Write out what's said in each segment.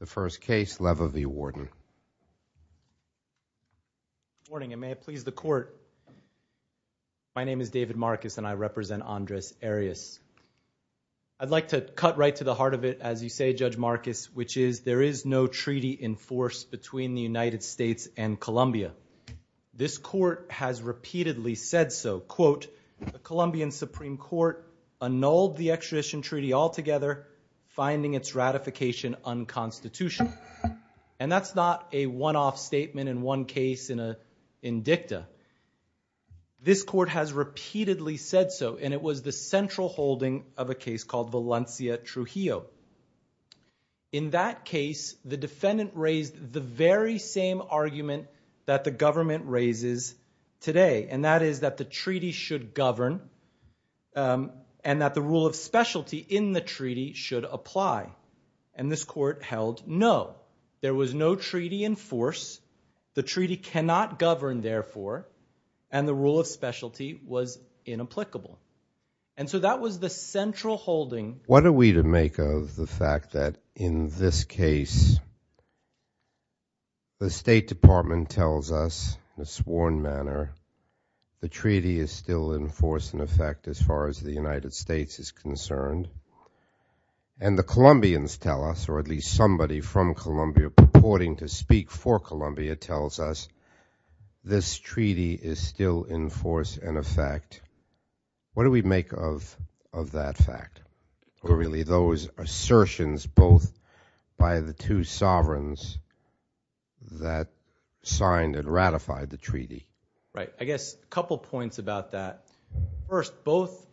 The first case, Leiva v. Warden. Good morning and may it please the court. My name is David Marcus and I represent Andres Arias. I'd like to cut right to the heart of it as you say, Judge Marcus, which is there is no treaty in force between the United States and Colombia. This court has repeatedly said so, quote, the Colombian Supreme Court annulled the extradition treaty altogether, finding its ratification unconstitutional. And that's not a one-off statement in one case in a indicta. This court has repeatedly said so, and it was the central holding of a case called Valencia Trujillo. In that case, the defendant raised the very same argument that the government should apply. And this court held no, there was no treaty in force. The treaty cannot govern therefore, and the rule of specialty was inapplicable. And so that was the central holding. What are we to make of the fact that in this case, the State Department tells us in a sworn manner, the treaty is still in force in effect as far as the United States is concerned. And the Colombians tell us, or at least somebody from Colombia purporting to speak for Colombia tells us this treaty is still in force and effect. What do we make of that fact? Or really those assertions both by the two sovereigns that signed and ratified the treaty? Right. I guess a couple points about that. First, both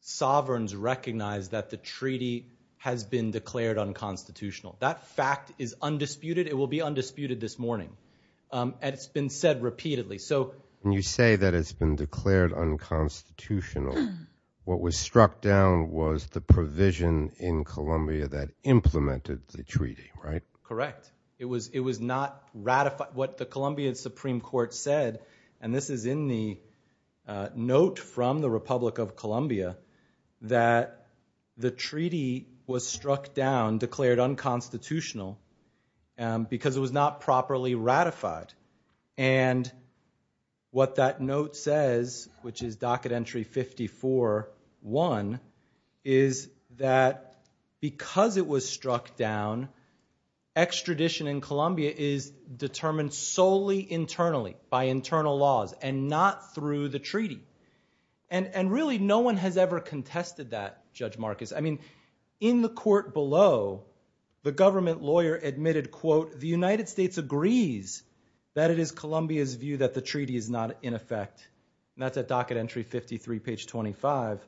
sovereigns recognize that the treaty has been declared unconstitutional. That fact is undisputed. It will be undisputed this morning. And it's been said repeatedly. So when you say that it's been declared unconstitutional, what was struck down was the provision in Colombia that implemented the treaty, right? Correct. It was not ratified. What the Colombian Supreme Court said, and this is in the note from the Republic of Colombia, that the treaty was struck down, declared unconstitutional because it was not properly ratified. And what that note says, which is docket entry 54-1, is that because it was struck down, extradition in Colombia is determined solely internally, by internal laws, and not through the treaty. And really no one has ever contested that, Judge Marcus. I mean, in the court below, the government lawyer admitted, quote, the United States agrees that it is Colombia's view that the treaty is not in effect. And that's at docket entry 53, page 25.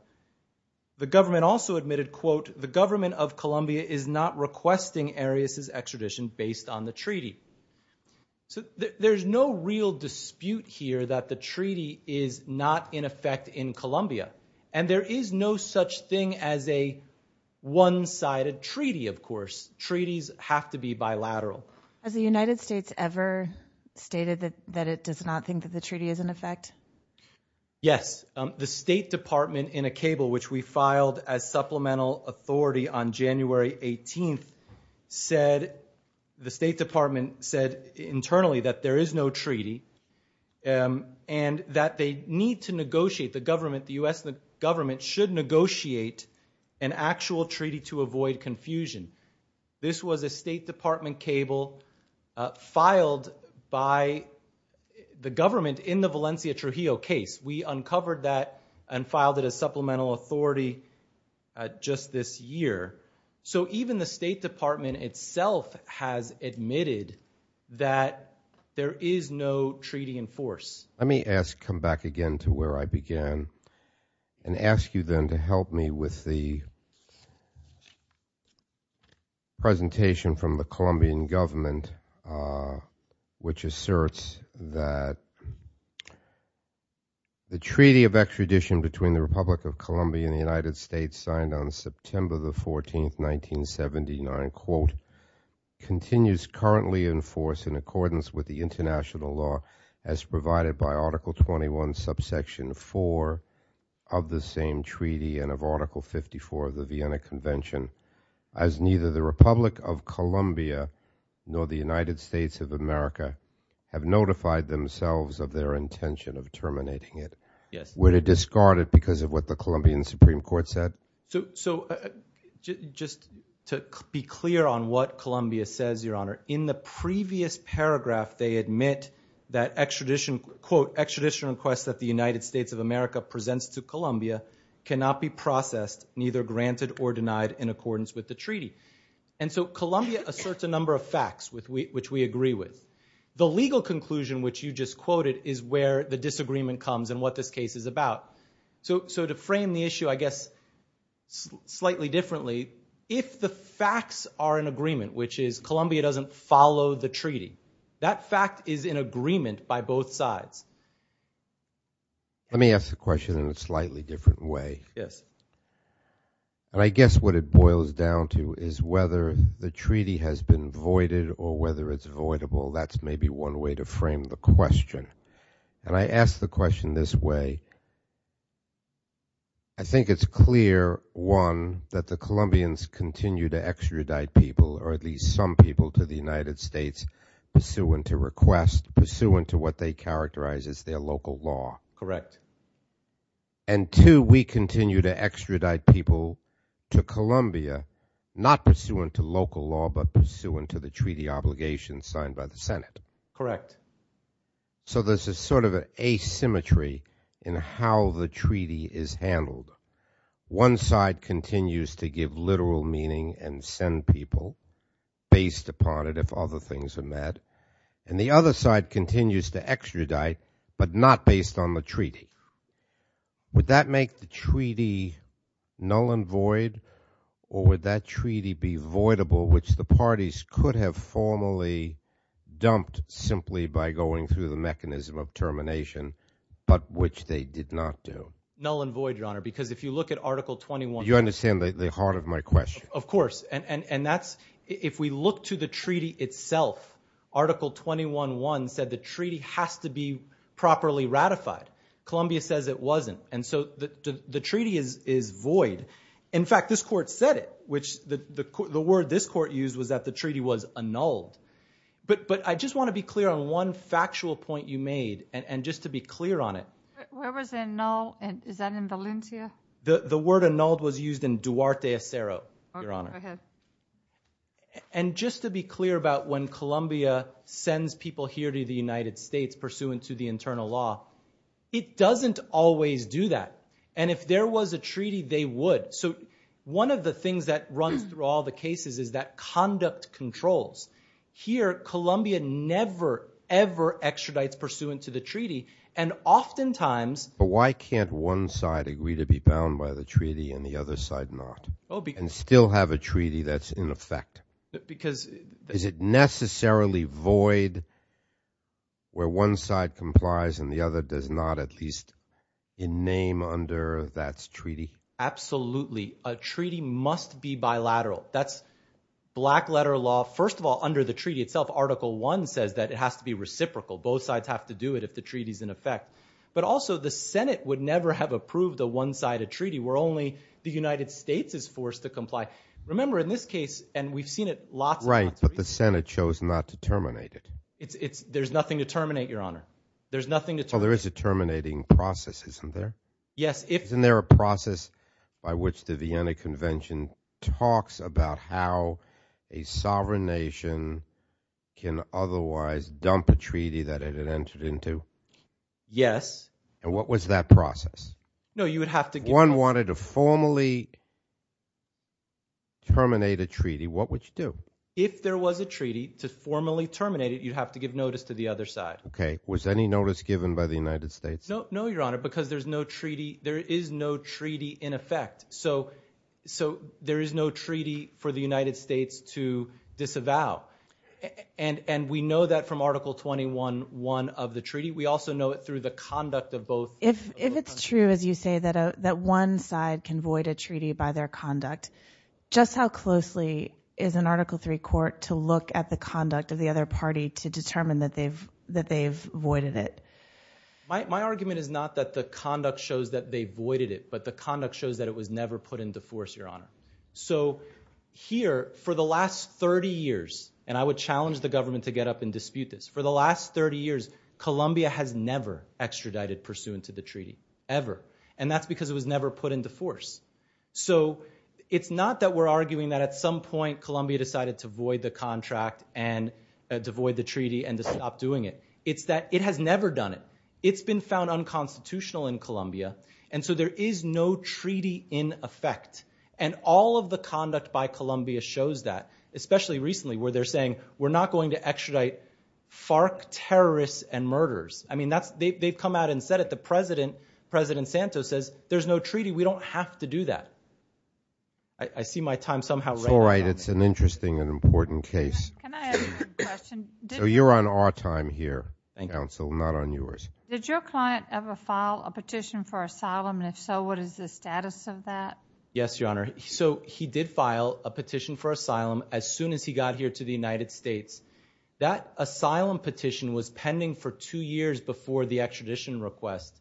The government also admitted, quote, the government of Colombia is not requesting Arias's extradition based on the treaty. So there's no real dispute here that the treaty is not in effect in Colombia. And there is no such thing as a one-sided treaty, of course. Treaties have to be bilateral. Has the United States ever stated that it does not think that the treaty is in effect? Yes. The State Department in a cable, which we filed as supplemental authority on January 18th, the State Department said internally that there is no treaty, and that they need to negotiate, the government, the US government should negotiate an actual treaty to avoid confusion. This was a State Department cable filed by the government in the Valencia Trujillo case. We uncovered that and filed it as supplemental authority just this year. So even the State Department itself has admitted that there is no treaty in force. Let me ask, come back again to where I began, and ask you then to help me with the presentation from the Colombian government, which asserts that the treaty of extradition between the Republic of Colombia and the United States signed on quote, continues currently in force in accordance with the international law, as provided by Article 21 subsection 4 of the same treaty and of Article 54 of the Vienna Convention, as neither the Republic of Colombia nor the United States of America have notified themselves of their intention of terminating it. Would it discard it because of what the Colombia says, Your Honor? In the previous paragraph, they admit that extradition, quote, extradition requests that the United States of America presents to Colombia cannot be processed, neither granted or denied in accordance with the treaty. And so Colombia asserts a number of facts which we agree with. The legal conclusion which you just quoted is where the disagreement comes and what this case is about. So to frame the issue, I guess, slightly differently, if the facts are in agreement, which is Colombia doesn't follow the treaty. That fact is in agreement by both sides. Let me ask the question in a slightly different way. Yes. And I guess what it boils down to is whether the treaty has been voided or whether it's voidable. That's maybe one way to frame the question. And I ask the question this way. I think it's clear, one, that the or at least some people to the United States pursuant to request, pursuant to what they characterize as their local law. Correct. And two, we continue to extradite people to Colombia, not pursuant to local law, but pursuant to the treaty obligations signed by the Senate. Correct. So there's a sort of asymmetry in how the treaty is handled. One side continues to give literal meaning and send people based upon it if other things are met. And the other side continues to extradite, but not based on the treaty. Would that make the treaty null and void or would that treaty be voidable, which the parties could have formally dumped simply by going through the mechanism of termination, but which they did not do? Null and void, because if you look at Article 21... You understand the heart of my question. Of course. And if we look to the treaty itself, Article 21.1 said the treaty has to be properly ratified. Colombia says it wasn't. And so the treaty is void. In fact, this court said it, which the word this court used was that the treaty was annulled. But I just want to be clear on one factual point you made and just to be clear on it. Where was it annulled? Is that in Valencia? The word annulled was used in Duarte, Acero, Your Honor. And just to be clear about when Colombia sends people here to the United States pursuant to the internal law, it doesn't always do that. And if there was a treaty, they would. So one of the things that runs through all the cases is that conduct controls. Here, Colombia never, ever extradites pursuant to the treaty. And oftentimes... But why can't one side agree to be bound by the treaty and the other side not? And still have a treaty that's in effect? Is it necessarily void where one side complies and the other does not at least in name under that treaty? Absolutely. A treaty must be bilateral. That's black letter law. First of all, under the treaty itself, Article 1 says that it has to be reciprocal. Both sides have to do it if the treaty is in effect. But also the Senate would never have approved a one-sided treaty where only the United States is forced to comply. Remember in this case, and we've seen it lots... Right, but the Senate chose not to terminate it. There's nothing to terminate, Your Honor. There is a terminating process, isn't there? Yes, if... Isn't there a talks about how a sovereign nation can otherwise dump a treaty that it had entered into? Yes. And what was that process? No, you would have to give... If one wanted to formally terminate a treaty, what would you do? If there was a treaty to formally terminate it, you'd have to give notice to the other side. Okay. Was any notice given by the United States? No, Your Honor, because there is no treaty in effect. So there is no treaty for the United States to disavow. And we know that from Article 21.1 of the treaty. We also know it through the conduct of both... If it's true, as you say, that one side can void a treaty by their conduct, just how closely is an Article 3 court to look at the conduct of the other party to determine that they've voided it? My argument is not that the conduct shows that they voided it, but the conduct shows that it was never put into force, Your Honor. So here, for the last 30 years, and I would challenge the government to get up and dispute this, for the last 30 years, Colombia has never extradited pursuant to the treaty, ever. And that's because it was never put into force. So it's not that we're arguing that at some point Colombia decided to void the treaty and to stop doing it. It's that it has never done it. It's been found unconstitutional in Colombia. And so there is no treaty in effect. And all of the conduct by Colombia shows that, especially recently, where they're saying, we're not going to extradite FARC terrorists and murderers. I mean, they've come out and said it. The President, President Santos says, there's no treaty. We don't have to do that. I see my time somehow running out. All right. It's an interesting and important case. So you're on our time here, counsel, not on yours. Did your client ever file a petition for asylum? And if so, what is the status of that? Yes, Your Honor. So he did file a petition for asylum as soon as he got here to the United States. That asylum petition was pending for two years before the extradition request.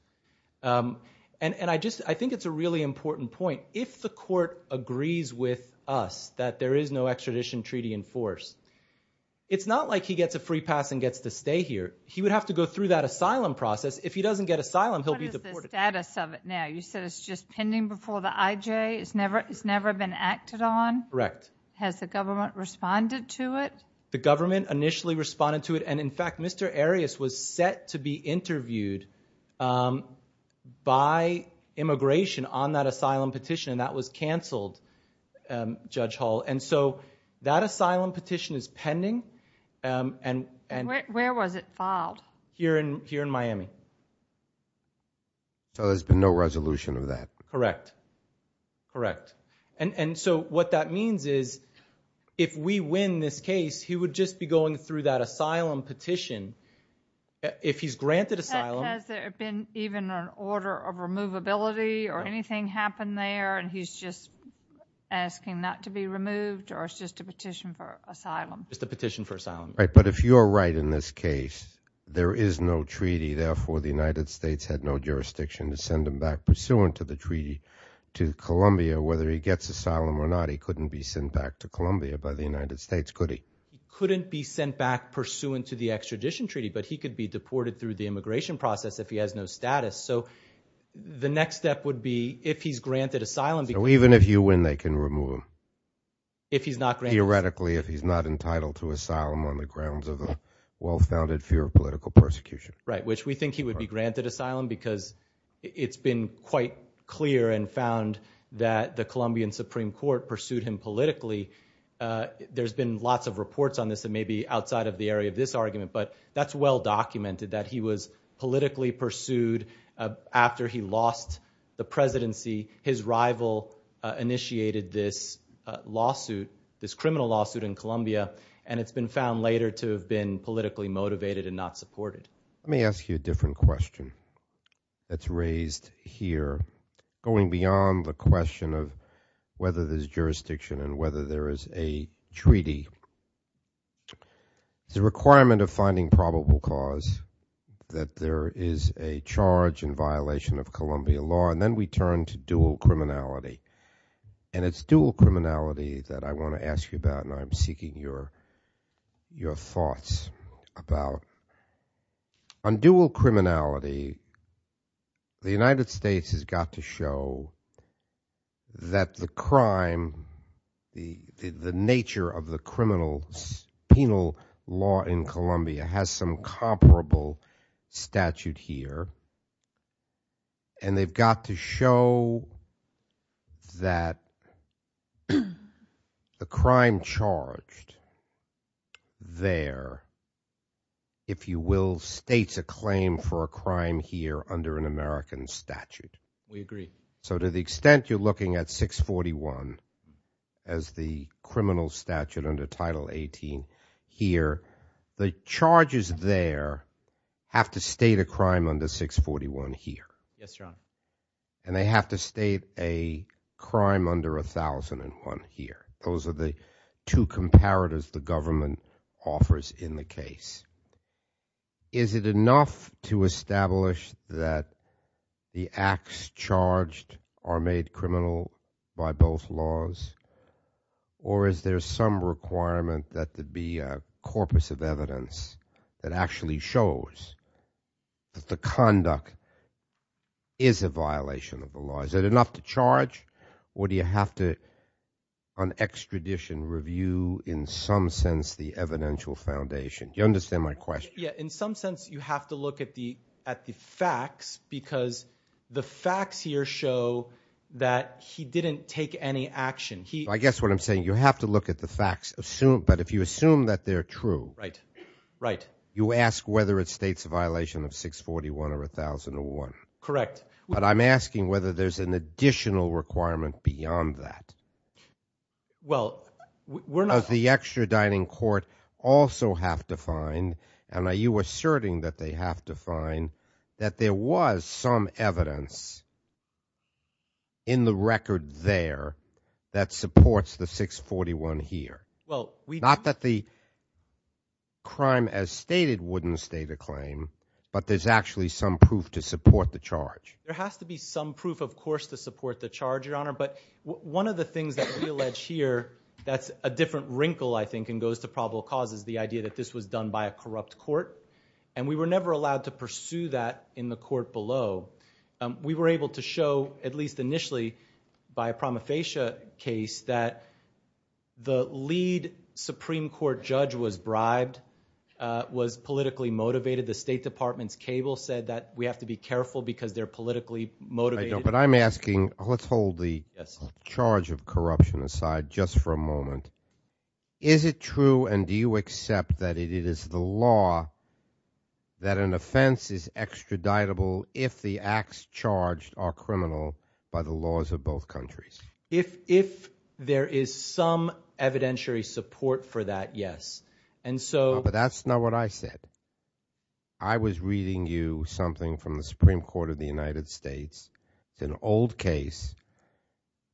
And I just, I think it's a really important point. If the court agrees with us that there is no extradition treaty in force, it's not like he gets a free pass and gets to stay here. He would have to go through that asylum process. If he doesn't get asylum, he'll be deported. What is the status of it now? You said it's just pending before the IJ? It's never, it's never been acted on? Correct. Has the government responded to it? The government initially responded to it. In fact, Mr. Arias was set to be interviewed by immigration on that asylum petition, and that was canceled, Judge Hall. And so that asylum petition is pending. Where was it filed? Here in Miami. So there's been no resolution of that? Correct. Correct. And so what that means is, if we win this case, he would just be going through that asylum petition. If he's granted asylum... Has there been even an order of removability or anything happened there, and he's just asking not to be removed, or it's just a petition for asylum? Just a petition for asylum. Right. But if you're right in this case, there is no treaty. Therefore, the United States had no jurisdiction to send him back. Pursuant to the treaty to Columbia, whether he gets asylum or not, he couldn't be sent back to Columbia by the United States, could he? He couldn't be sent back pursuant to the extradition treaty, but he could be deported through the immigration process if he has no status. So the next step would be, if he's granted asylum... So even if you win, they can remove him? If he's not granted... Theoretically, if he's not entitled to asylum on the grounds of a well-founded fear of political persecution. Right. Which we think he would be that the Colombian Supreme Court pursued him politically. There's been lots of reports on this that may be outside of the area of this argument, but that's well-documented that he was politically pursued after he lost the presidency. His rival initiated this criminal lawsuit in Columbia, and it's been found later to have been politically motivated and not supported. Let me ask you a different question that's beyond the question of whether there's jurisdiction and whether there is a treaty. The requirement of finding probable cause that there is a charge in violation of Columbia law, and then we turn to dual criminality, and it's dual criminality that I want to ask you about, and I'm seeking your thoughts about. On dual criminality, the United States has got to show that the crime, the nature of the criminal penal law in Columbia has some comparable statute here, and they've got to show that the crime charged there, if you will, states a claim for a crime here under an American statute. We agree. So to the extent you're looking at 641 as the criminal statute under Title 18 here, the charges there have to state a crime under 641 here. Yes, Your Honor. And they have to state a crime under 1001 here. Those are the two comparators the government offers in the case. Is it enough to establish that the acts charged are made criminal by both laws, or is there some requirement that there be a corpus of evidence that actually shows that the conduct is a violation of the law? Is it enough to charge, or do you have to, extradition review, in some sense, the evidential foundation? Do you understand my question? Yeah. In some sense, you have to look at the facts because the facts here show that he didn't take any action. I guess what I'm saying, you have to look at the facts, but if you assume that they're true, you ask whether it states a violation of 641 or 1001. Correct. But I'm asking whether there's an additional requirement beyond that. Well, we're not... Does the extraditing court also have to find, and are you asserting that they have to find, that there was some evidence in the record there that supports the 641 here? Well, we... Not that the crime as stated wouldn't state a claim, but there's actually some proof to support the charge. There has to be some proof, of course, to support the charge, Your Honor, but one of the things that we allege here, that's a different wrinkle, I think, and goes to probable cause, is the idea that this was done by a corrupt court, and we were never allowed to pursue that in the court below. We were able to show, at least initially, by a promofacia case, that the lead Supreme Court judge was bribed, was politically motivated. The State Department's cable said that we have to be careful because they're politically motivated. But I'm asking, let's hold the charge of corruption aside just for a moment. Is it true, and do you accept that it is the law that an offense is extraditable if the acts charged are criminal by the laws of both countries? If there is some evidentiary support for that, yes, and so... But that's not what I said. I was reading you something from the Supreme Court of the United States, it's an old case,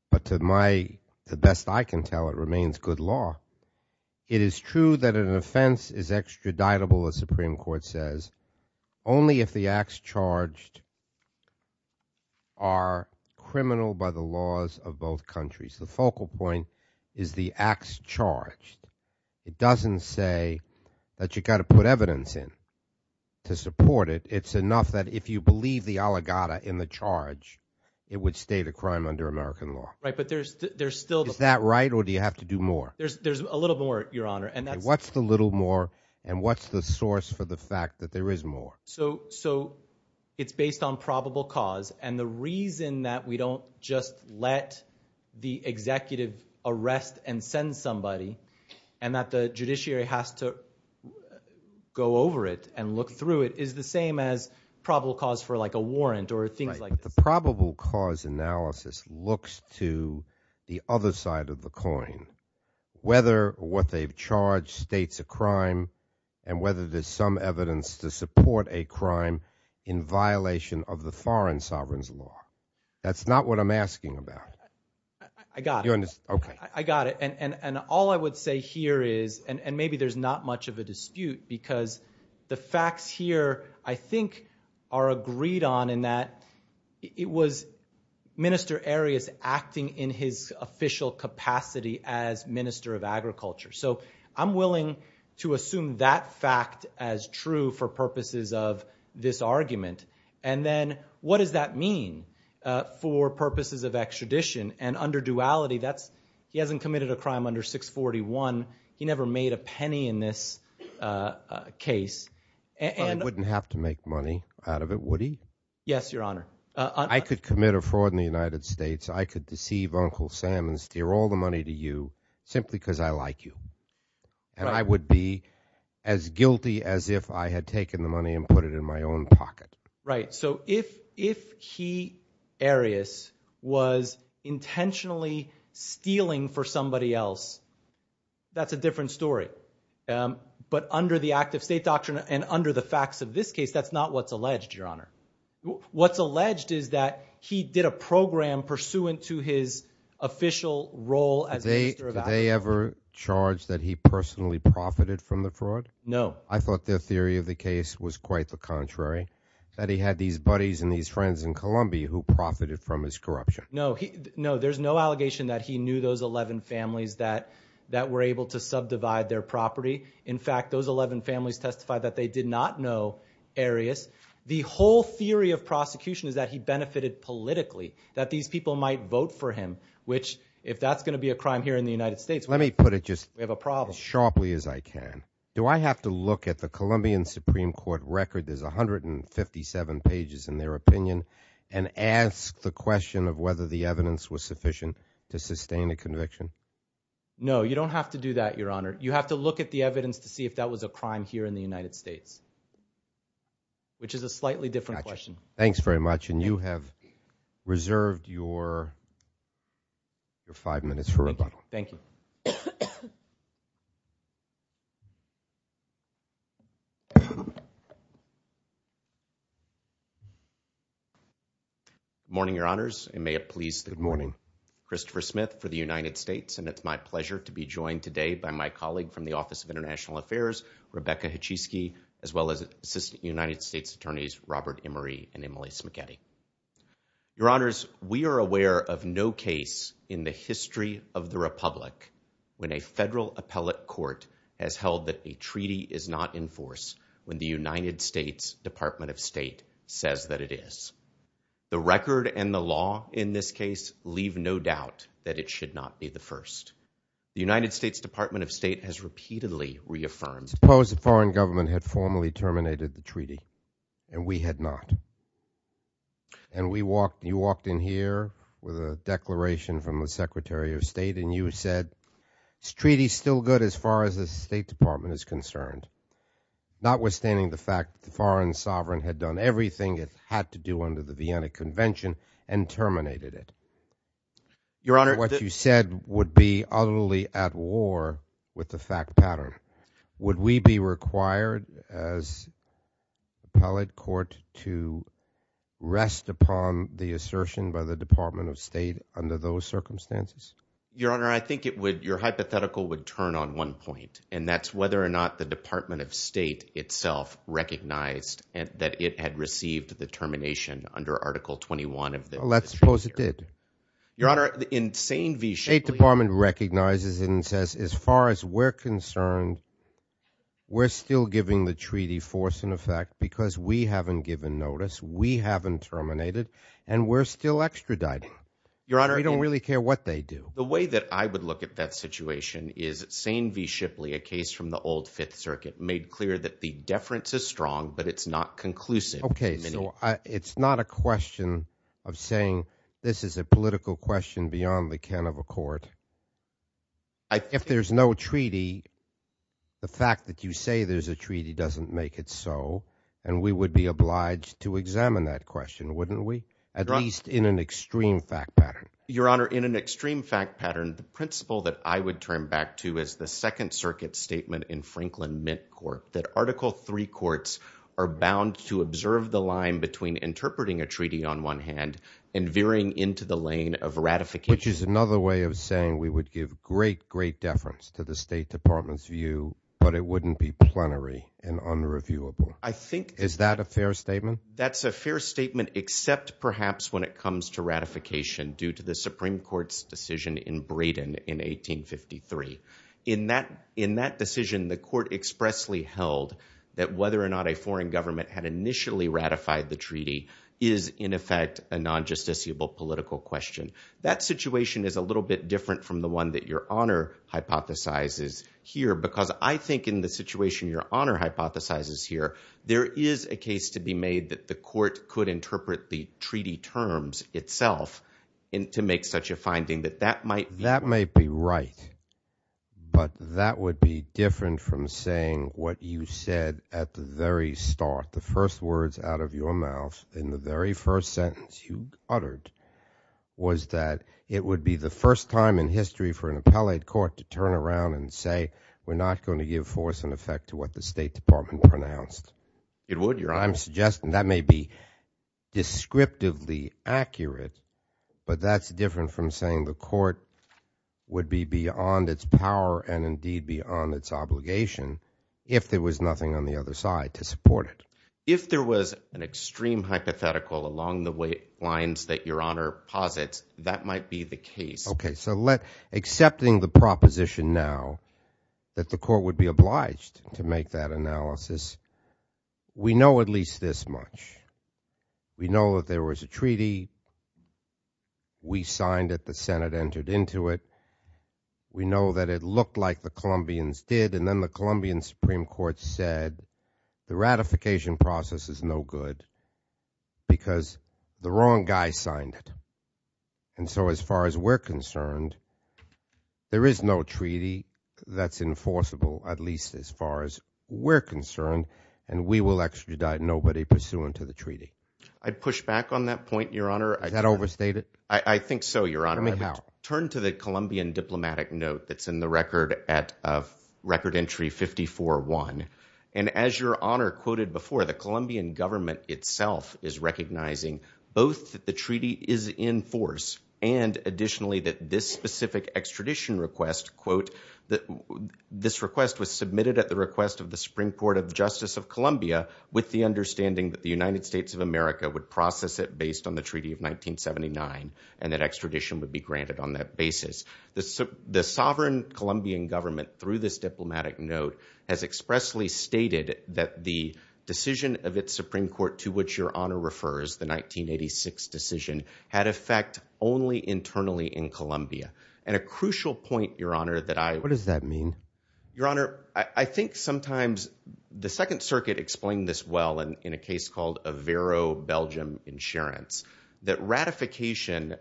but to my, the best I can tell, it remains good law. It is true that an offense is extraditable, the Supreme Court says, only if the acts charged are criminal by the laws of both countries. The focal point is the acts charged. It doesn't say that you got to put evidence in to support it. It's enough that if you believe the allegata in the charge, it would state a crime under American law. Right, but there's still... Is that right, or do you have to do more? There's a little more, Your Honor, and that's... What's the little more, and what's the source for the fact that there is more? So, it's based on probable cause, and the reason that we don't just let the executive arrest and send somebody, and that the judiciary has to go over it and look through it, is the same as probable cause for like a warrant, or things like that. The probable cause analysis looks to the other side of the coin, whether what they've charged states a crime, and whether there's some evidence to support a crime in violation of the foreign sovereign's law. That's not what I'm asking about. I got it. You understand, okay. I got it, and all I would say here is, and maybe there's not much of a dispute, because the facts here, I think, are agreed on in that it was Minister Arias acting in his official capacity as Minister of Agriculture. So, I'm willing to assume that fact as true for purposes of this argument, and then what does that mean for purposes of extradition? And under duality, that's... He hasn't committed a crime under 641. He never made a penny in this case, and... I wouldn't have to make money out of it, would he? Yes, your honor. I could commit a fraud in the United States. I could deceive Uncle Sam and steal all the money to you, simply because I like you. And I would be as guilty as if I had taken the money and put it in my own pocket. Right. So, if he, Arias, was intentionally stealing for somebody else, that's a different story. But under the active state doctrine and under the facts of this case, that's not what's alleged, your honor. What's alleged is that he did a program pursuant to his official role as Minister of Agriculture. Did they ever charge that he personally profited from the fraud? No. I thought their theory of the case was quite the contrary, that he had these buddies and these friends in Columbia who profited from his corruption. No, there's no allegation that he knew those 11 families that were able to subdivide their property. In fact, those 11 families testified that they did not know Arias. The whole theory of prosecution is that he benefited politically, that these people might vote for him, which, if that's going to be a crime here in the United States... Let me put it just as sharply as I can. Do I have to look at the Colombian Supreme Court record, there's 157 pages in their opinion, and ask the question of whether the evidence was sufficient to sustain a conviction? No, you don't have to do that, your honor. You have to look at the evidence to see if that was a crime here in the United States, which is a slightly different question. Thanks very much. And you have reserved your five minutes for rebuttal. Thank you. Morning, your honors. And may it please the- Good morning. Christopher Smith for the United States. And it's my pleasure to be joined today by my colleague from the Office of International Affairs, Rebecca Hachisky, as well as Assistant United States Attorneys Robert Emery and Emily Smachetti. Your honors, we are aware of no case in the history of the republic when a federal appellate court has held that a treaty is not in force when the United States Department of State says that it is. The record and the law in this case leave no doubt that it should not be the first. The United States Department of State has repeatedly reaffirmed- Suppose the foreign government had formally terminated the treaty, and we had not. And we walked, you walked in here with a declaration from the Secretary of State, and you said, this treaty's still good as far as the State Department is concerned, notwithstanding the fact the foreign sovereign had done everything it had to do under the Vienna Convention and terminated it. Your honor- What you said would be utterly at war with the fact pattern. Would we be required as appellate court to rest upon the assertion by the Department of State under those circumstances? Your honor, I think it would, your hypothetical would turn on one point, and that's whether or not the Department of State itself recognized that it had received the termination under Article 21 of the- Let's suppose it did. Your honor, in Seine v. Shipley- State Department recognizes and says, as far as we're concerned, we're still giving the treaty force in effect because we haven't given notice, we haven't terminated, and we're still extraditing. Your honor- We don't really care what they do. The way that I would look at that situation is Seine v. Shipley, a case from the old Fifth Circuit, made clear that the deference is strong, but it's not conclusive. Okay, so it's not a question of saying this is a political question beyond the can of a court. If there's no treaty, the fact that you say there's a treaty doesn't make it so, and we would be obliged to examine that question, wouldn't we? At least in an extreme fact pattern. Your honor, in an extreme fact pattern, the principle that I would turn back to is the Second Circuit statement in Franklin Mint Court, that Article III courts are bound to observe the line between interpreting a treaty on one hand and veering into the lane of ratification- Which is another way of saying we would give great, great deference to the State Department's view, but it wouldn't be plenary and unreviewable. I think- Is that a fair statement? That's a fair statement, except perhaps when it comes to ratification, due to the Supreme Court's decision in Braden in 1853. In that decision, the court expressly held that whether or not a foreign government had initially ratified the treaty is, in effect, a non-justiciable political question. That situation is a little bit different from the one that your honor hypothesizes here, because I think in the situation your honor hypothesizes here, there is a case to be made that the court could interpret the treaty terms itself to make such a finding that that might be- That might be right, but that would be different from saying what you said at the very start, the first words out of your mouth in the very first sentence you uttered, was that it would be the first time in history for an appellate court to turn around and say, we're not going to give force and effect to what the State Department pronounced. It would, your honor. That may be descriptively accurate, but that's different from saying the court would be beyond its power and indeed beyond its obligation if there was nothing on the other side to support it. If there was an extreme hypothetical along the lines that your honor posits, that might be the case. Okay, so accepting the proposition now that the court would be obliged to make that analysis, we know at least this much. We know that there was a treaty, we signed it, the Senate entered into it, we know that it looked like the Colombians did, and then the Colombian Supreme Court said the ratification process is no good because the wrong guy signed it. And so as far as we're concerned, there is no treaty that's enforceable, at least as far as we're concerned, and we will extradite nobody pursuant to the treaty. I'd push back on that point, your honor. Is that overstated? I think so, your honor. I mean, how? Turn to the Colombian diplomatic note that's in the record at record entry 54-1, and as your honor quoted before, the Colombian government itself is recognizing both that the treaty is in force and additionally that this specific extradition request, quote, that this request was submitted at the request of the Supreme Court of Justice of Colombia with the understanding that the United States of America would process it based on the treaty of 1979 and that extradition would be granted on that basis. The sovereign Colombian government through this diplomatic note has expressly stated that the decision of its Supreme Court to which your honor refers, the 1986 decision, had effect only internally in Colombia. And a crucial point, your honor, that I- What does that mean? Your honor, I think sometimes the Second Circuit explained this well in a case called Avero Belgium Insurance, that ratification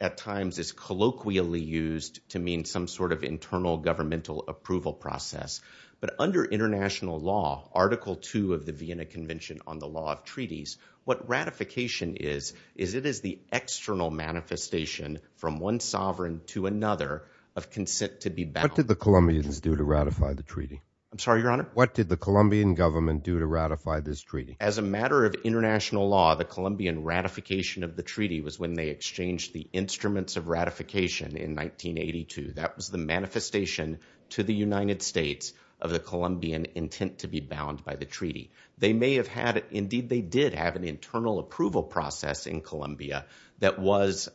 at times is colloquially used to mean some sort of internal governmental approval process. But under international law, Article 2 of the Vienna Convention on the Law of Treaties, what ratification is, is it is the external manifestation from one sovereign to another of consent to be bound. What did the Colombians do to ratify the treaty? I'm sorry, your honor? What did the Colombian government do to ratify this treaty? As a matter of international law, the Colombian ratification of the treaty was when they exchanged the instruments of ratification in 1982. That was the manifestation to the United States of the Colombian intent to be bound by the treaty. They may have had, indeed they did have an internal approval process in Colombia that was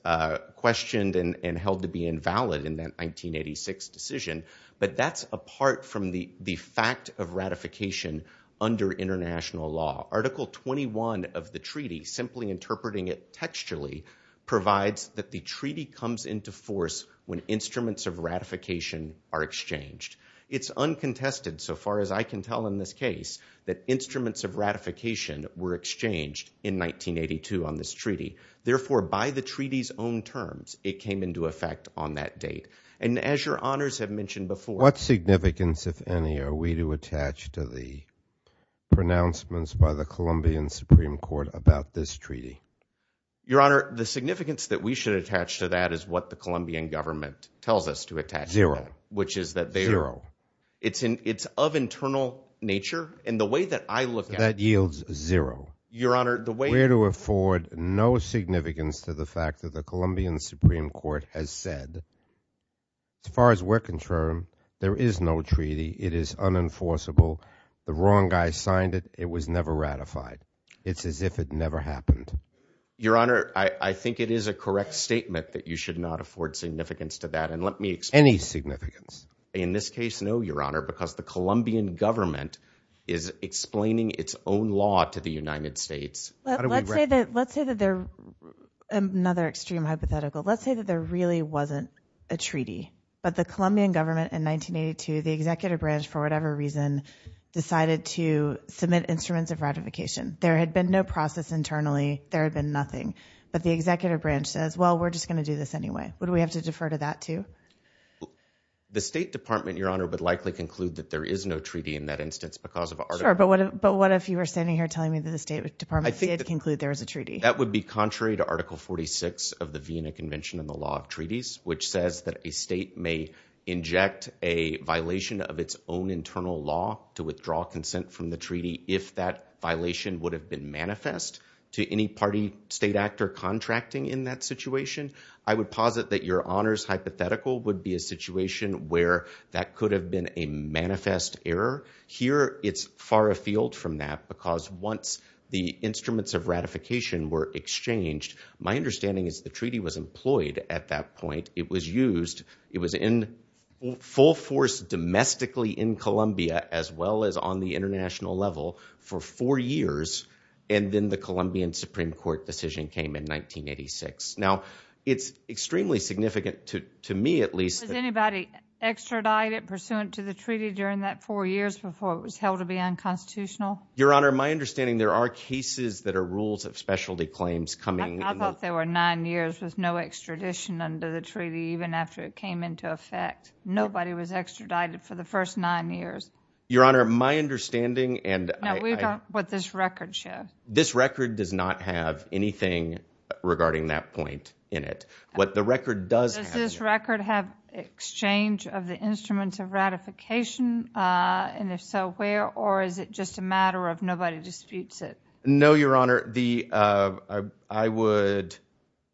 questioned and held to be invalid in that 1986 decision. But that's apart from the fact of ratification under international law. Article 21 of the treaty, simply interpreting it textually, provides that the treaty comes into force when instruments of ratification are exchanged. It's uncontested, so far as I can tell in this case, that instruments of ratification were exchanged in 1982 on this treaty. Therefore, by the treaty's own terms, it came into effect on that date. And as your honors have mentioned before- What significance, if any, are we to attach to the pronouncements by the Colombian Supreme Court about this treaty? Your honor, the significance that we should attach to that is what the Colombian government tells us to attach to that. Zero. Which is that they- Zero. It's of internal nature. And the way that I look at- That yields zero. Your honor, the way- We're to afford no significance to the fact that the Colombian Supreme Court has said, as far as we're concerned, there is no treaty. It is unenforceable. The wrong guy signed it. It was never ratified. It's as if it never happened. Your honor, I think it is a correct statement that you should not afford significance to that. And let me explain- Any significance. In this case, no, your honor, because the Colombian government is explaining its own law to the United States. Let's say that there- Another extreme hypothetical. Let's say that there really wasn't a treaty, but the Colombian government in 1982, the executive branch, for whatever reason, decided to submit instruments of ratification. There had been no process internally. There had been nothing. But the executive branch says, well, we're just going to do this anyway. Would we have to defer to that too? The State Department, your honor, would likely conclude that there is no treaty in that instance Sure, but what if you were standing here telling me that the State Department- Did conclude there is a treaty. That would be contrary to Article 46 of the Vienna Convention on the Law of Treaties, which says that a state may inject a violation of its own internal law to withdraw consent from the treaty if that violation would have been manifest to any party, state actor contracting in that situation. I would posit that your honor's hypothetical would be a situation where that could have been a manifest error. Here, it's far afield from that because once the instruments of ratification were exchanged, my understanding is the treaty was employed at that point. It was used. It was in full force domestically in Colombia, as well as on the international level for four years. And then the Colombian Supreme Court decision came in 1986. Now, it's extremely significant to me, at least- Pursuant to the treaty during that four years before it was held to be unconstitutional? Your honor, my understanding, there are cases that are rules of specialty claims coming- I thought there were nine years with no extradition under the treaty, even after it came into effect. Nobody was extradited for the first nine years. Your honor, my understanding and- Now, we've got what this record shows. This record does not have anything regarding that point in it. What the record does- Exchange of the instruments of ratification, and if so, where? Or is it just a matter of nobody disputes it? No, your honor. I would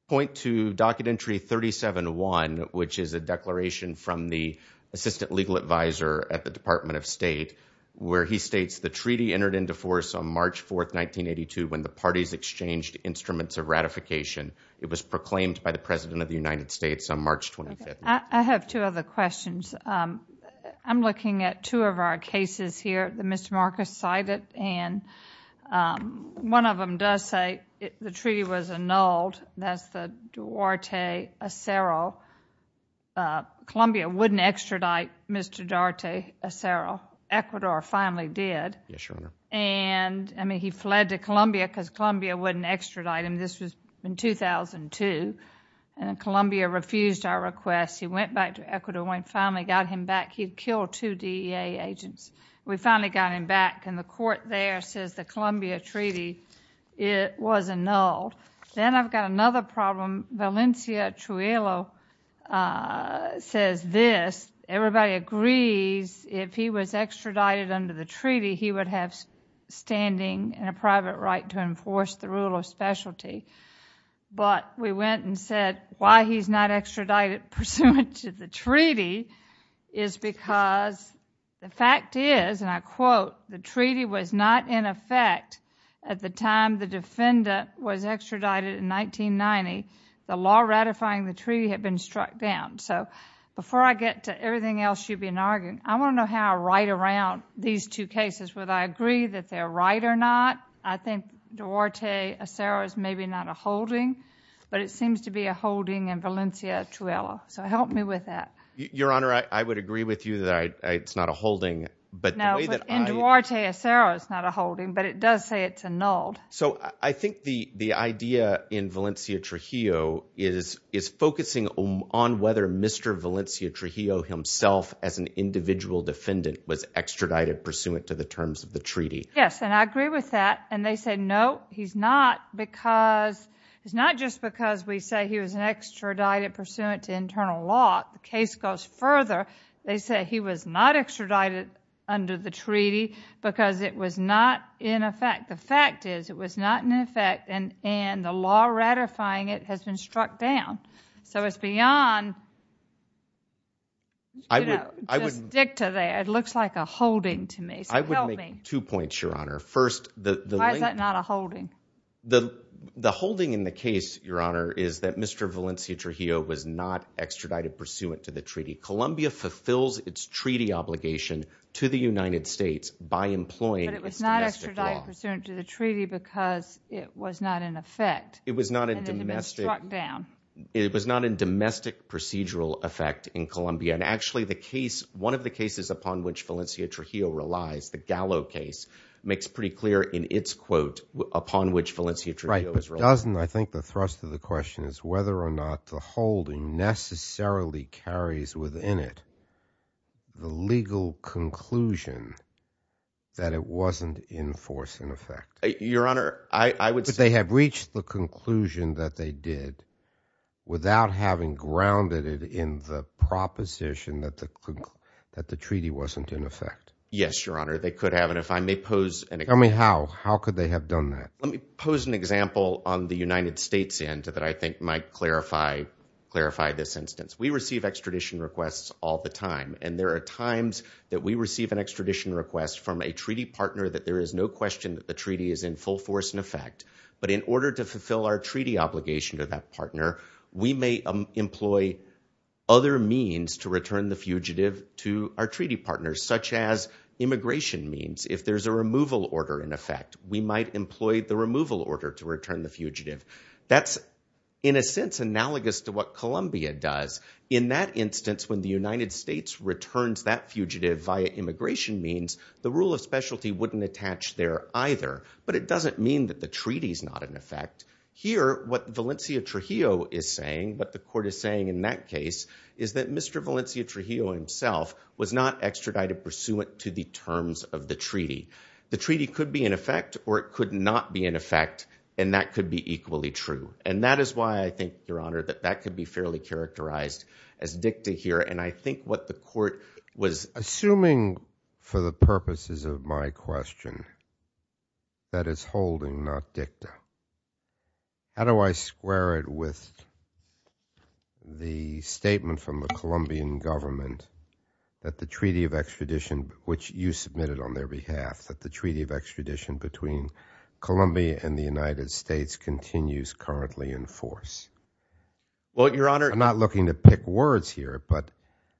point to Documentary 37-1, which is a declaration from the Assistant Legal Advisor at the Department of State, where he states, the treaty entered into force on March 4th, 1982, when the parties exchanged instruments of ratification. It was proclaimed by the President of the United States on March 25th. I have two other questions. I'm looking at two of our cases here that Mr. Marcus cited, and one of them does say the treaty was annulled. That's the Duarte-Acero. Columbia wouldn't extradite Mr. Duarte-Acero. Ecuador finally did. Yes, your honor. And, I mean, he fled to Columbia because Columbia wouldn't extradite him. This was in 2002, and Columbia refused our request. He went back to Ecuador and finally got him back. He killed two DEA agents. We finally got him back, and the court there says the Columbia Treaty, it was annulled. Then I've got another problem. Valencia Trujillo says this. Everybody agrees if he was extradited under the treaty, he would have standing and a private right to enforce the rule of specialty, but we went and said why he's not extradited pursuant to the treaty is because the fact is, and I quote, the treaty was not in effect at the time the defendant was extradited in 1990. The law ratifying the treaty had been struck down. Before I get to everything else you've been arguing, I want to know how I write around these two cases. Would I agree that they're right or not? I think Duarte-Acero is maybe not a holding, but it seems to be a holding in Valencia-Trujillo, so help me with that. Your Honor, I would agree with you that it's not a holding, but the way that I— No, but in Duarte-Acero it's not a holding, but it does say it's annulled. So I think the idea in Valencia-Trujillo is focusing on whether Mr. Valencia-Trujillo himself as an individual defendant was extradited pursuant to the terms of the treaty. Yes, and I agree with that. And they say, no, he's not because—it's not just because we say he was an extradited pursuant to internal law. The case goes further. They say he was not extradited under the treaty because it was not in effect. The fact is, it was not in effect and the law ratifying it has been struck down. So it's beyond, you know, just stick to there. It looks like a holding to me, so help me. Two points, Your Honor. First, the— Why is that not a holding? The holding in the case, Your Honor, is that Mr. Valencia-Trujillo was not extradited pursuant to the treaty. Colombia fulfills its treaty obligation to the United States by employing its domestic law. But it was not extradited pursuant to the treaty because it was not in effect. It was not in domestic— And it had been struck down. It was not in domestic procedural effect in Colombia. Actually, the case— One of the cases upon which Valencia-Trujillo relies, the Gallo case, makes pretty clear in its quote upon which Valencia-Trujillo is— Right, but doesn't— I think the thrust of the question is whether or not the holding necessarily carries within it the legal conclusion that it wasn't in force and effect. Your Honor, I would say— Yes, Your Honor, they could have. And if I may pose an— Tell me how. How could they have done that? Let me pose an example on the United States end that I think might clarify this instance. We receive extradition requests all the time. And there are times that we receive an extradition request from a treaty partner that there is no question that the treaty is in full force and effect. But in order to fulfill our treaty obligation to that partner, we may employ other means to return the fugitive to our treaty partners, such as immigration means. If there's a removal order in effect, we might employ the removal order to return the fugitive. That's, in a sense, analogous to what Colombia does. In that instance, when the United States returns that fugitive via immigration means, the rule of specialty wouldn't attach there either. But it doesn't mean that the treaty is not in effect. Here, what Valencia Trujillo is saying, what the court is saying in that case, is that Mr. Valencia Trujillo himself was not extradited pursuant to the terms of the treaty. The treaty could be in effect or it could not be in effect, and that could be equally true. And that is why I think, Your Honor, that that could be fairly characterized as dicta here. And I think what the court was— Assuming for the purposes of my question, that is holding, not dicta. How do I square it with the statement from the Colombian government that the Treaty of Extradition, which you submitted on their behalf, that the Treaty of Extradition between Colombia and the United States continues currently in force? Well, Your Honor— I'm not looking to pick words here, but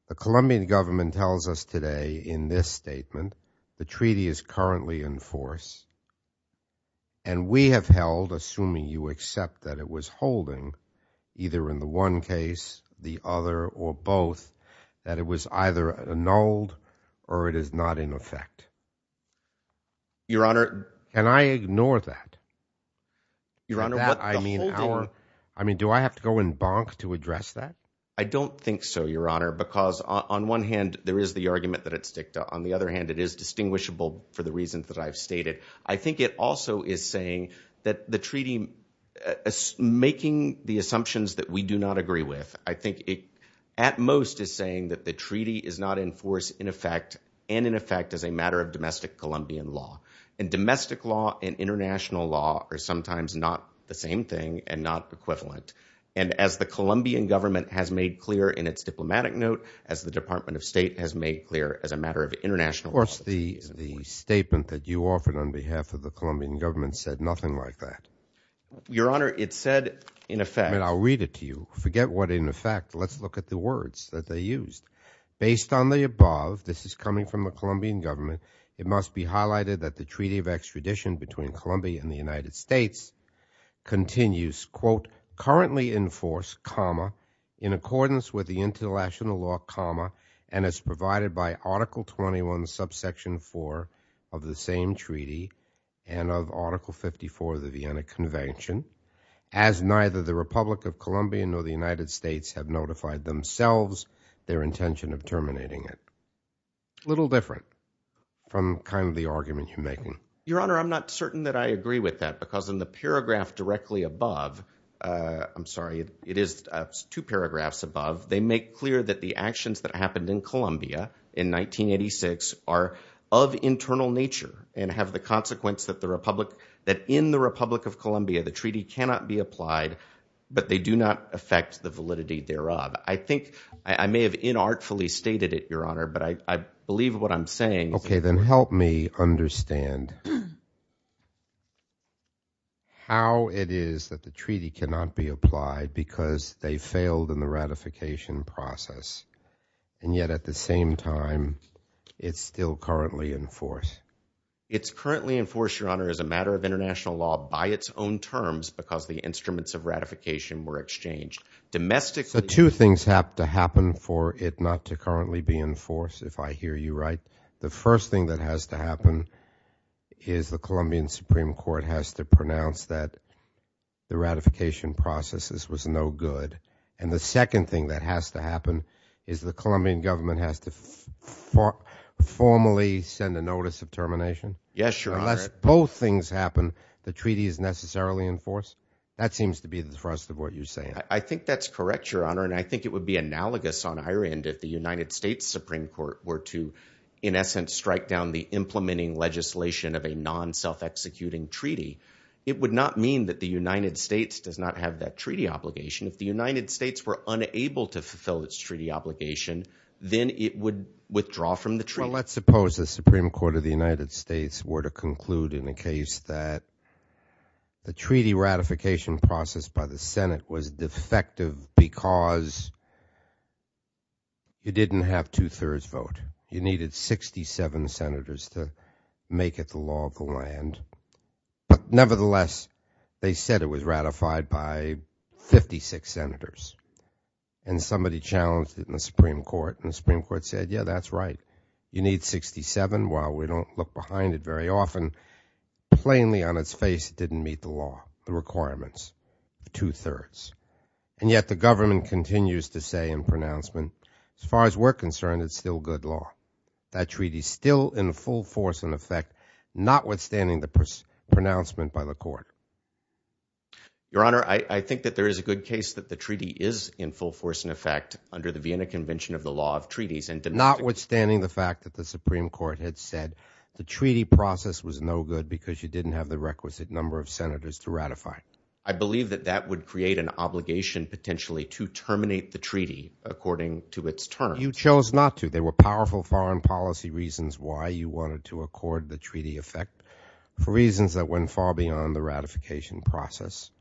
the Colombian government tells us today in this accept that it was holding, either in the one case, the other, or both, that it was either annulled or it is not in effect. Your Honor— And I ignore that. Your Honor, but the holding— I mean, do I have to go and bonk to address that? I don't think so, Your Honor, because on one hand, there is the argument that it's dicta. On the other hand, it is distinguishable for the reasons that I've stated. I think it also is saying that the treaty— making the assumptions that we do not agree with. I think it at most is saying that the treaty is not in force in effect and in effect as a matter of domestic Colombian law. And domestic law and international law are sometimes not the same thing and not equivalent. And as the Colombian government has made clear in its diplomatic note, as the Department of State has made clear as a matter of international— The statement that you offered on behalf of the Colombian government said nothing like that. Your Honor, it said in effect— I'll read it to you. Forget what in effect. Let's look at the words that they used. Based on the above— this is coming from the Colombian government— it must be highlighted that the Treaty of Extradition between Colombia and the United States continues, quote, currently in force, comma, in accordance with the international law, comma, and as provided by Article 21, Subsection 4 of the same treaty and of Article 54 of the Vienna Convention, as neither the Republic of Colombia nor the United States have notified themselves their intention of terminating it. A little different from kind of the argument you're making. Your Honor, I'm not certain that I agree with that because in the paragraph directly above— I'm sorry, it is two paragraphs above— they make clear that the actions that happened in Colombia in 1986 are of internal nature and have the consequence that the Republic— that in the Republic of Colombia, the treaty cannot be applied, but they do not affect the validity thereof. I think I may have inartfully stated it, Your Honor, but I believe what I'm saying— Okay, then help me understand. How it is that the treaty cannot be applied because they failed in the ratification process and yet at the same time, it's still currently in force. It's currently in force, Your Honor, as a matter of international law by its own terms because the instruments of ratification were exchanged. Domestically— So two things have to happen for it not to currently be in force, if I hear you right. The first thing that has to happen is the Colombian Supreme Court has to pronounce that the ratification process was no good and the second thing that has to happen is the Colombian government has to formally send a notice of termination. Yes, Your Honor. Unless both things happen, the treaty is necessarily in force. That seems to be the thrust of what you're saying. I think that's correct, Your Honor, and I think it would be analogous on our end if the United States Supreme Court were to, in essence, strike down the implementing legislation of a non-self-executing treaty. It would not mean that the United States does not have that treaty obligation. If the United States were unable to fulfill its treaty obligation, then it would withdraw from the treaty. Well, let's suppose the Supreme Court of the United States were to conclude in a case that the treaty ratification process by the Senate was defective because you didn't have two-thirds vote. You needed 67 senators to make it the law of the land, but nevertheless, they said it was ratified by 56 senators and somebody challenged it in the Supreme Court and the Supreme Court said, yeah, that's right. You need 67. While we don't look behind it very often, plainly on its face, it didn't meet the law, the requirements of two-thirds and yet the government continues to say in pronouncement, as far as we're concerned, it's still good law. That treaty is still in full force and effect, notwithstanding the pronouncement by the court. Your Honor, I think that there is a good case that the treaty is in full force and effect under the Vienna Convention of the Law of Treaties and— Notwithstanding the fact that the Supreme Court had said the treaty process was no good because you didn't have the requisite number of senators to ratify it. I believe that that would create an obligation, potentially, to terminate the treaty according to its terms. You chose not to. There were powerful foreign policy reasons why you wanted to accord the treaty effect for reasons that went far beyond the ratification process.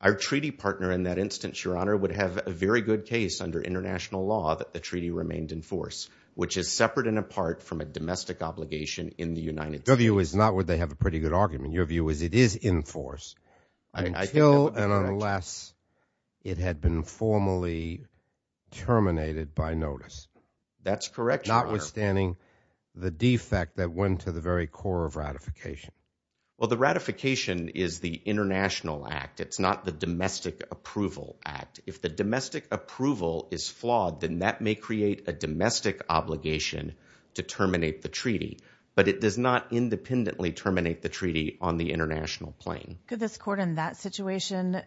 Our treaty partner in that instance, Your Honor, would have a very good case under international law that the treaty remained in force, which is separate and apart from a domestic obligation in the United States. Your view is not where they have a pretty good argument. Your view is it is in force until and unless it had been formally terminated by notice. That's correct, Your Honor. Notwithstanding the defect that went to the very core of ratification. Well, the ratification is the international act. It's not the domestic approval act. If the domestic approval is flawed, then that may create a domestic obligation to terminate the treaty, but it does not independently terminate the treaty on the international plane. Could this court in that situation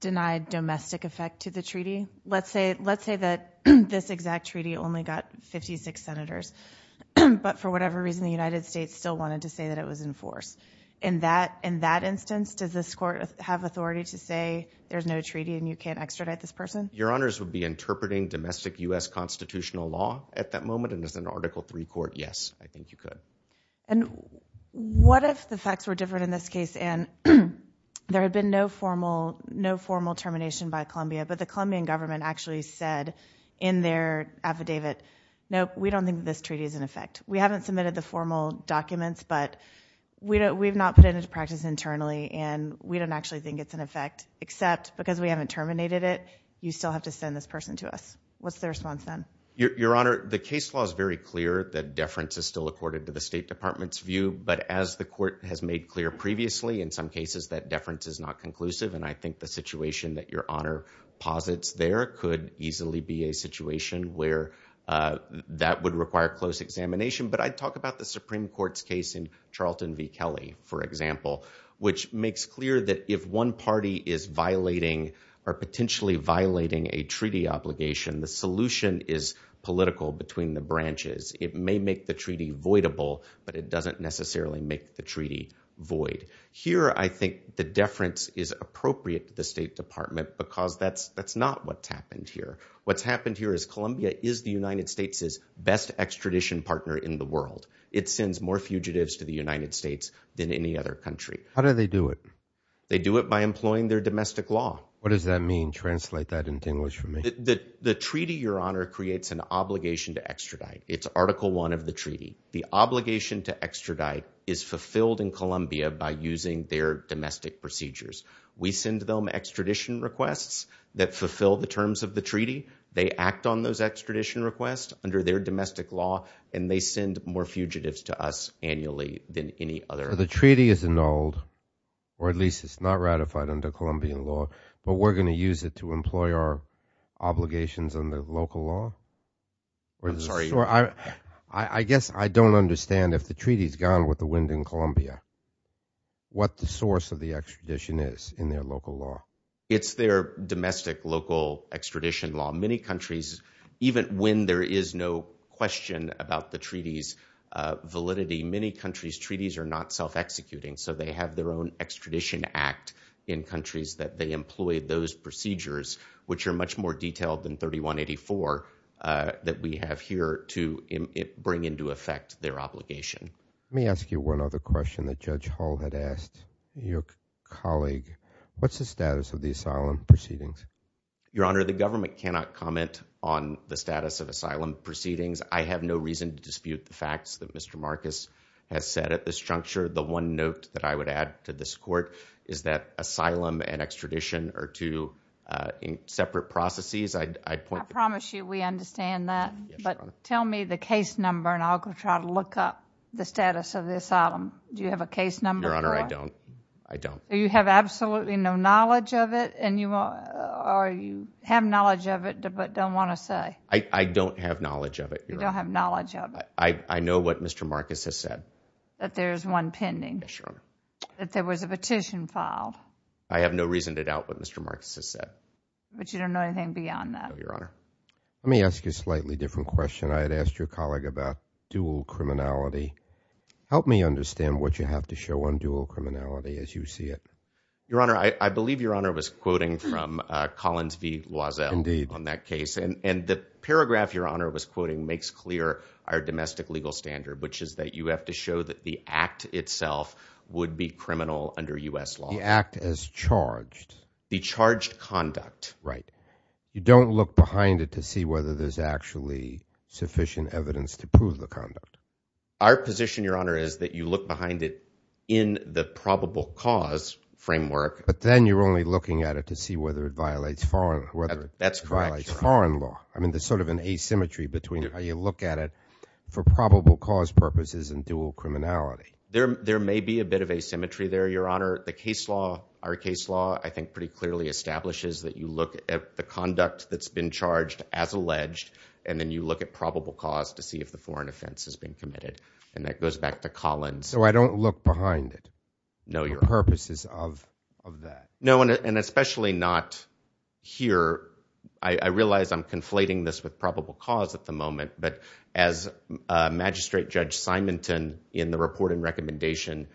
deny domestic effect to the treaty? Let's say that this exact treaty only got 56 senators, but for whatever reason, the United States still wanted to say that it was in force. In that instance, does this court have authority to say there's no treaty and you can't extradite this person? Your Honors would be interpreting domestic U.S. constitutional law at that moment and as an Article III court, yes, I think you could. And what if the facts were different in this case, and there had been no formal termination by Columbia, but the Colombian government actually said in their affidavit, no, we don't think this treaty is in effect. We haven't submitted the formal documents, but we've not put it into practice internally, and we don't actually think it's in effect, except because we haven't terminated it, you still have to send this person to us. What's the response then? Your Honor, the case law is very clear that deference is still accorded to the State Department's view, but as the court has made clear previously, in some cases that deference is not conclusive, and I think the situation that your Honor posits there could easily be a situation where that would require close examination, but I'd talk about the Supreme Court's case in Charlton v. Kelly, for example, which makes clear that if one party is violating or potentially violating a treaty obligation, the solution is political between the branches. It may make the treaty voidable, but it doesn't necessarily make the treaty void. Here, I think the deference is appropriate to the State Department because that's not what's happened here. What's happened here is, Columbia is the United States' best extradition partner in the world. It sends more fugitives to the United States than any other country. How do they do it? They do it by employing their domestic law. What does that mean? Translate that in English for me. The treaty, your Honor, creates an obligation to extradite. It's Article I of the treaty. The obligation to extradite is fulfilled in Columbia by using their domestic procedures. We send them extradition requests that fulfill the terms of the treaty. They act on those extradition requests under their domestic law, and they send more fugitives to us annually than any other. The treaty is annulled, or at least it's not ratified under Colombian law, but we're going to use it to employ our obligations under local law? I'm sorry. I guess I don't understand if the treaty's gone with the wind in Columbia, what the source of the extradition is in their local law. It's their domestic local extradition law. Many countries, even when there is no question about the treaty's validity, many countries' treaties are not self-executing, so they have their own extradition act in countries that they employ those procedures, which are much more detailed than 3184 that we have here to bring into effect their obligation. Let me ask you one other question that Judge Hall had asked your colleague. What's the status of the asylum proceedings? Your Honor, the government cannot comment on the status of asylum proceedings. I have no reason to dispute the facts that Mr. Marcus has said at this juncture. The one note that I would add to this court is that asylum and extradition are two separate processes. I promise you we understand that, but tell me the case number and I'll try to look up the status of the asylum. Do you have a case number? Your Honor, I don't. You have absolutely no knowledge of it and you have knowledge of it, but don't want to say. I don't have knowledge of it. You don't have knowledge of it. I know what Mr. Marcus has said. That there's one pending. Yes, Your Honor. That there was a petition filed. I have no reason to doubt what Mr. Marcus has said. But you don't know anything beyond that? No, Your Honor. Let me ask you a slightly different question. I had asked your colleague about dual criminality. Help me understand what you have to show on dual criminality as you see it. Your Honor, I believe Your Honor was quoting from Collins v. Loisel on that case. And the paragraph Your Honor was quoting makes clear our domestic legal standard, which is that you have to show that the act itself would be criminal under U.S. law. The act as charged. The charged conduct. Right. You don't look behind it to see whether there's actually sufficient evidence to prove the conduct. Our position, Your Honor, is that you look behind it in the probable cause framework. But then you're only looking at it to see whether it violates foreign law. I mean, there's sort of an asymmetry between how you look at it for probable cause purposes and dual criminality. There may be a bit of asymmetry there, Your Honor. The case law, our case law, I think pretty clearly establishes that you look at the conduct that's been charged as alleged and then you look at probable cause to see if the foreign offense has been committed. And that goes back to Collins. So I don't look behind it? No, Your Honor. For purposes of that? No, and especially not here. I realize I'm conflating this with probable cause at the moment. But as Magistrate Judge Simonton in the report and recommendation,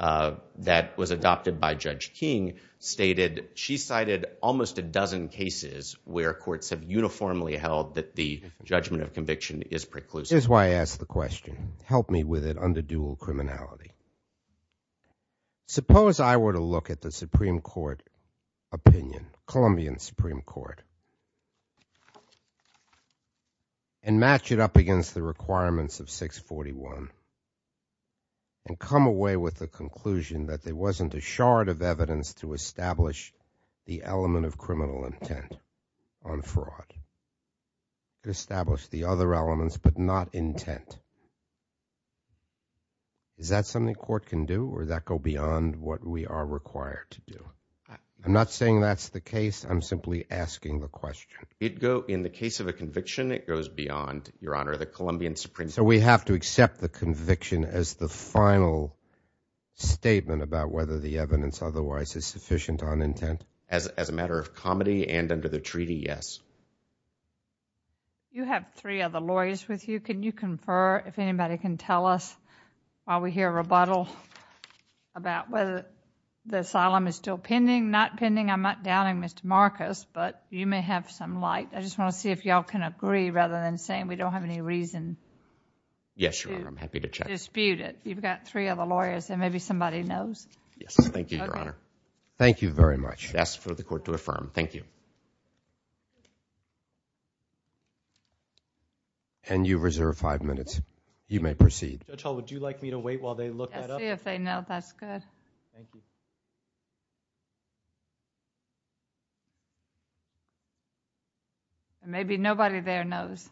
that was adopted by Judge King, stated she cited almost a dozen cases where courts have uniformly held that the judgment of conviction is preclusive. Here's why I asked the question. Help me with it under dual criminality. Suppose I were to look at the Supreme Court opinion, Colombian Supreme Court, and match it up against the requirements of 641 and come away with the conclusion that there wasn't a shard of evidence to establish the element of criminal intent on fraud. Establish the other elements, but not intent. Is that something court can do or that go beyond what we are required to do? I'm not saying that's the case. I'm simply asking the question. It'd go, in the case of a conviction, it goes beyond, Your Honor, the Colombian Supreme Court. We have to accept the conviction as the final statement about whether the evidence otherwise is sufficient on intent? As a matter of comedy and under the treaty, yes. You have three other lawyers with you. Can you confer if anybody can tell us, while we hear rebuttal, about whether the asylum is still pending? Not pending. I'm not doubting Mr. Marcus, but you may have some light. I just want to see if y'all can agree rather than saying we don't have any reason to dispute it. Yes, Your Honor, I'm happy to check. You've got three other lawyers, and maybe somebody knows. Yes, thank you, Your Honor. Thank you very much. I'd ask for the court to affirm. Thank you. And you reserve five minutes. You may proceed. Judge Hall, would you like me to wait while they look that up? Let's see if they know. That's good. Thank you. Maybe nobody there knows.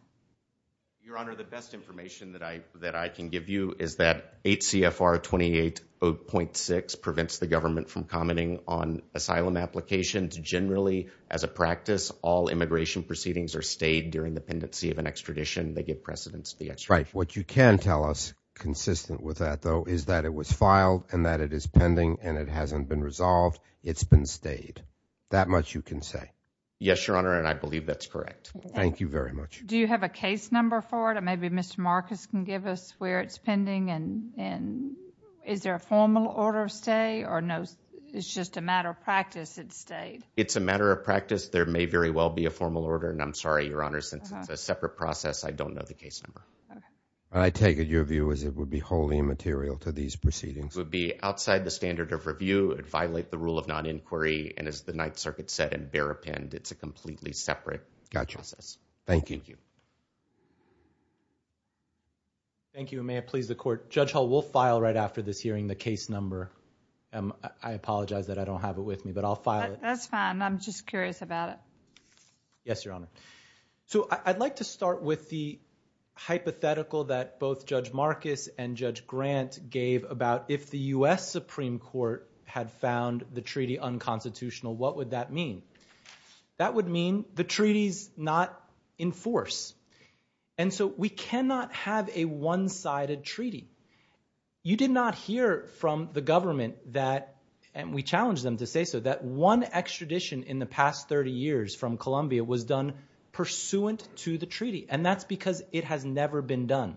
Your Honor, the best information that I can give you is that HCFR 280.6 prevents the government from commenting on asylum applications. Generally, as a practice, all immigration proceedings are stayed during the pendency of an extradition. They give precedence to the extradition. Right. What you can tell us, consistent with that, though, is that it was filed and that it is pending and it hasn't been resolved. It's been stayed. That much you can say. Yes, Your Honor, and I believe that's correct. Thank you very much. Do you have a case number for it? Maybe Mr. Marcus can give us where it's pending and is there a formal order of stay or no? It's just a matter of practice it stayed. It's a matter of practice. There may very well be a formal order and I'm sorry, Your Honor, since it's a separate process, I don't know the case number. I take it your view is it would be wholly immaterial to these proceedings. It would be outside the standard of review. It would violate the rule of non-inquiry and, as the Ninth Circuit said, and bear append. It's a completely separate process. Thank you. Thank you and may it please the Court. Judge Hall, we'll file right after this hearing the case number. I apologize that I don't have it with me, but I'll file it. That's fine. I'm just curious about it. Yes, Your Honor. So I'd like to start with the hypothetical that both Judge Marcus and Judge Grant gave about if the U.S. Supreme Court had found the treaty unconstitutional, what would that mean? That would mean the treaty's not in force. And so we cannot have a one-sided treaty. You did not hear from the government that, and we challenged them to say so, that one extradition in the past 30 years from Colombia was done pursuant to the treaty, and that's because it has never been done.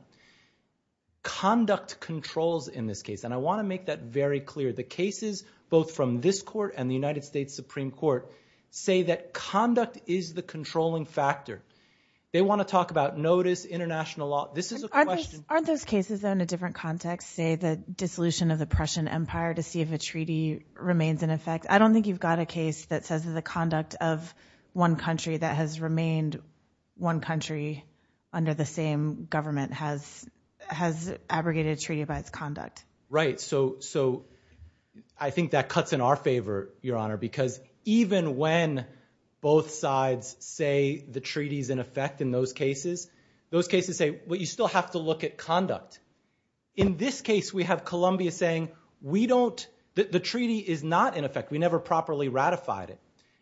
Conduct controls in this case, and I want to make that very clear. The cases, both from this Court and the United States Supreme Court, say that conduct is the controlling factor. They want to talk about notice, international law. This is a question- Aren't those cases, though, in a different context, say the dissolution of the Prussian Empire to see if a treaty remains in effect? I don't think you've got a case that says that the conduct of one country that has remained one country under the same government has abrogated a treaty by its conduct. Right. So I think that cuts in our favor, Your Honor, because even when both sides say the treaty's in effect in those cases, those cases say, well, you still have to look at conduct. In this case, we have Colombia saying, we don't, the treaty is not in effect. We never properly ratified it.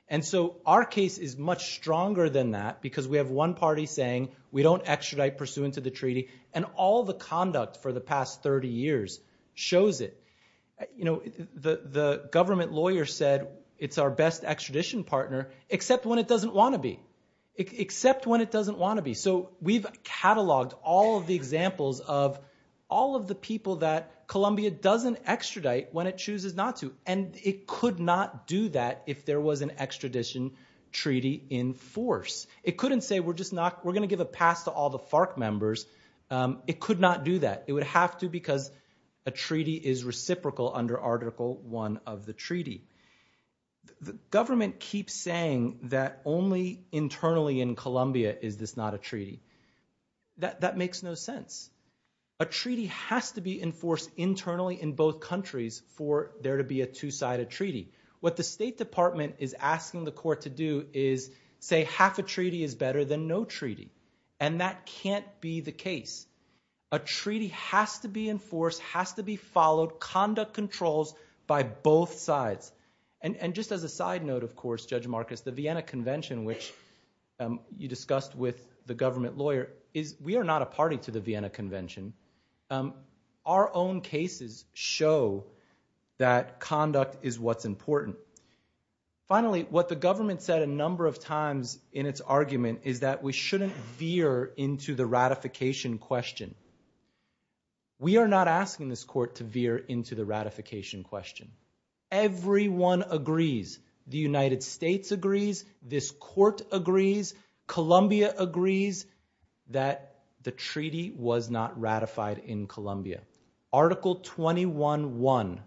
And so our case is much stronger than that because we have one party saying we don't extradite pursuant to the treaty, and all the conduct for the past 30 years shows it. You know, the government lawyer said, it's our best extradition partner, except when it doesn't want to be. Except when it doesn't want to be. So we've cataloged all of the examples of all of the people that Colombia doesn't extradite when it chooses not to. And it could not do that if there was an extradition treaty in force. It couldn't say, we're just not, we're going to give a pass to all the FARC members. It could not do that. It would have to because a treaty is reciprocal under Article I of the treaty. The government keeps saying that only internally in Colombia is this not a treaty. That makes no sense. A treaty has to be enforced internally in both countries for there to be a two-sided treaty. What the State Department is asking the court to do is say half a treaty is better than no treaty. And that can't be the case. A treaty has to be enforced, has to be followed. Conduct controls by both sides. And just as a side note, of course, Judge Marcus, the Vienna Convention, which you discussed with the government lawyer, is we are not a party to the Vienna Convention. Our own cases show that conduct is what's important. Finally, what the government said a number of times in its argument is that we shouldn't veer into the ratification question. We are not asking this court to veer into the ratification question. Everyone agrees. The United States agrees. This court agrees. Colombia agrees that the treaty was not ratified in Colombia. Article 21.1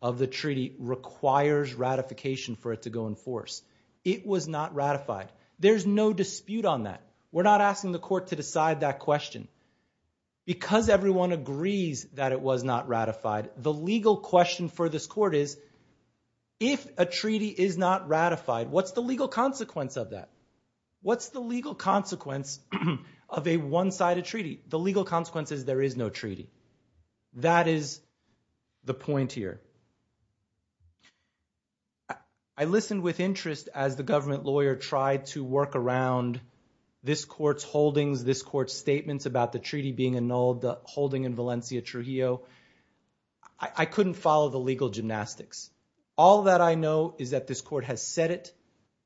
of the treaty requires ratification for it to go in force. It was not ratified. There's no dispute on that. We're not asking the court to decide that question. Because everyone agrees that it was not ratified, the legal question for this court is, if a treaty is not ratified, what's the legal consequence of that? What's the legal consequence of a one-sided treaty? The legal consequence is there is no treaty. That is the point here. I listened with interest as the government lawyer tried to work around this court's holdings, this court's statements about the treaty being annulled, the holding in Valencia Trujillo. I couldn't follow the legal gymnastics. All that I know is that this court has said it.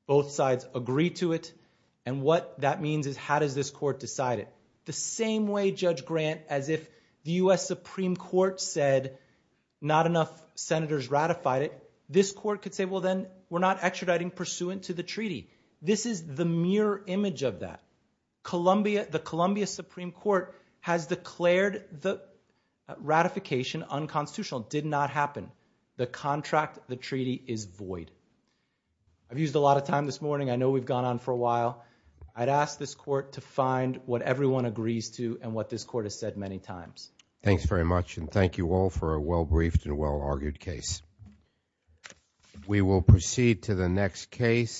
Both sides agree to it. And what that means is, how does this court decide it? The same way Judge Grant, as if the U.S. Supreme Court said, not enough senators ratified it, this court could say, we're not extraditing pursuant to the treaty. This is the mirror image of that. The Columbia Supreme Court has declared the ratification unconstitutional. Did not happen. The contract, the treaty is void. I've used a lot of time this morning. I know we've gone on for a while. I'd ask this court to find what everyone agrees to and what this court has said many times. Thanks very much and thank you all for a well-briefed and well-argued case. We will proceed to the next case.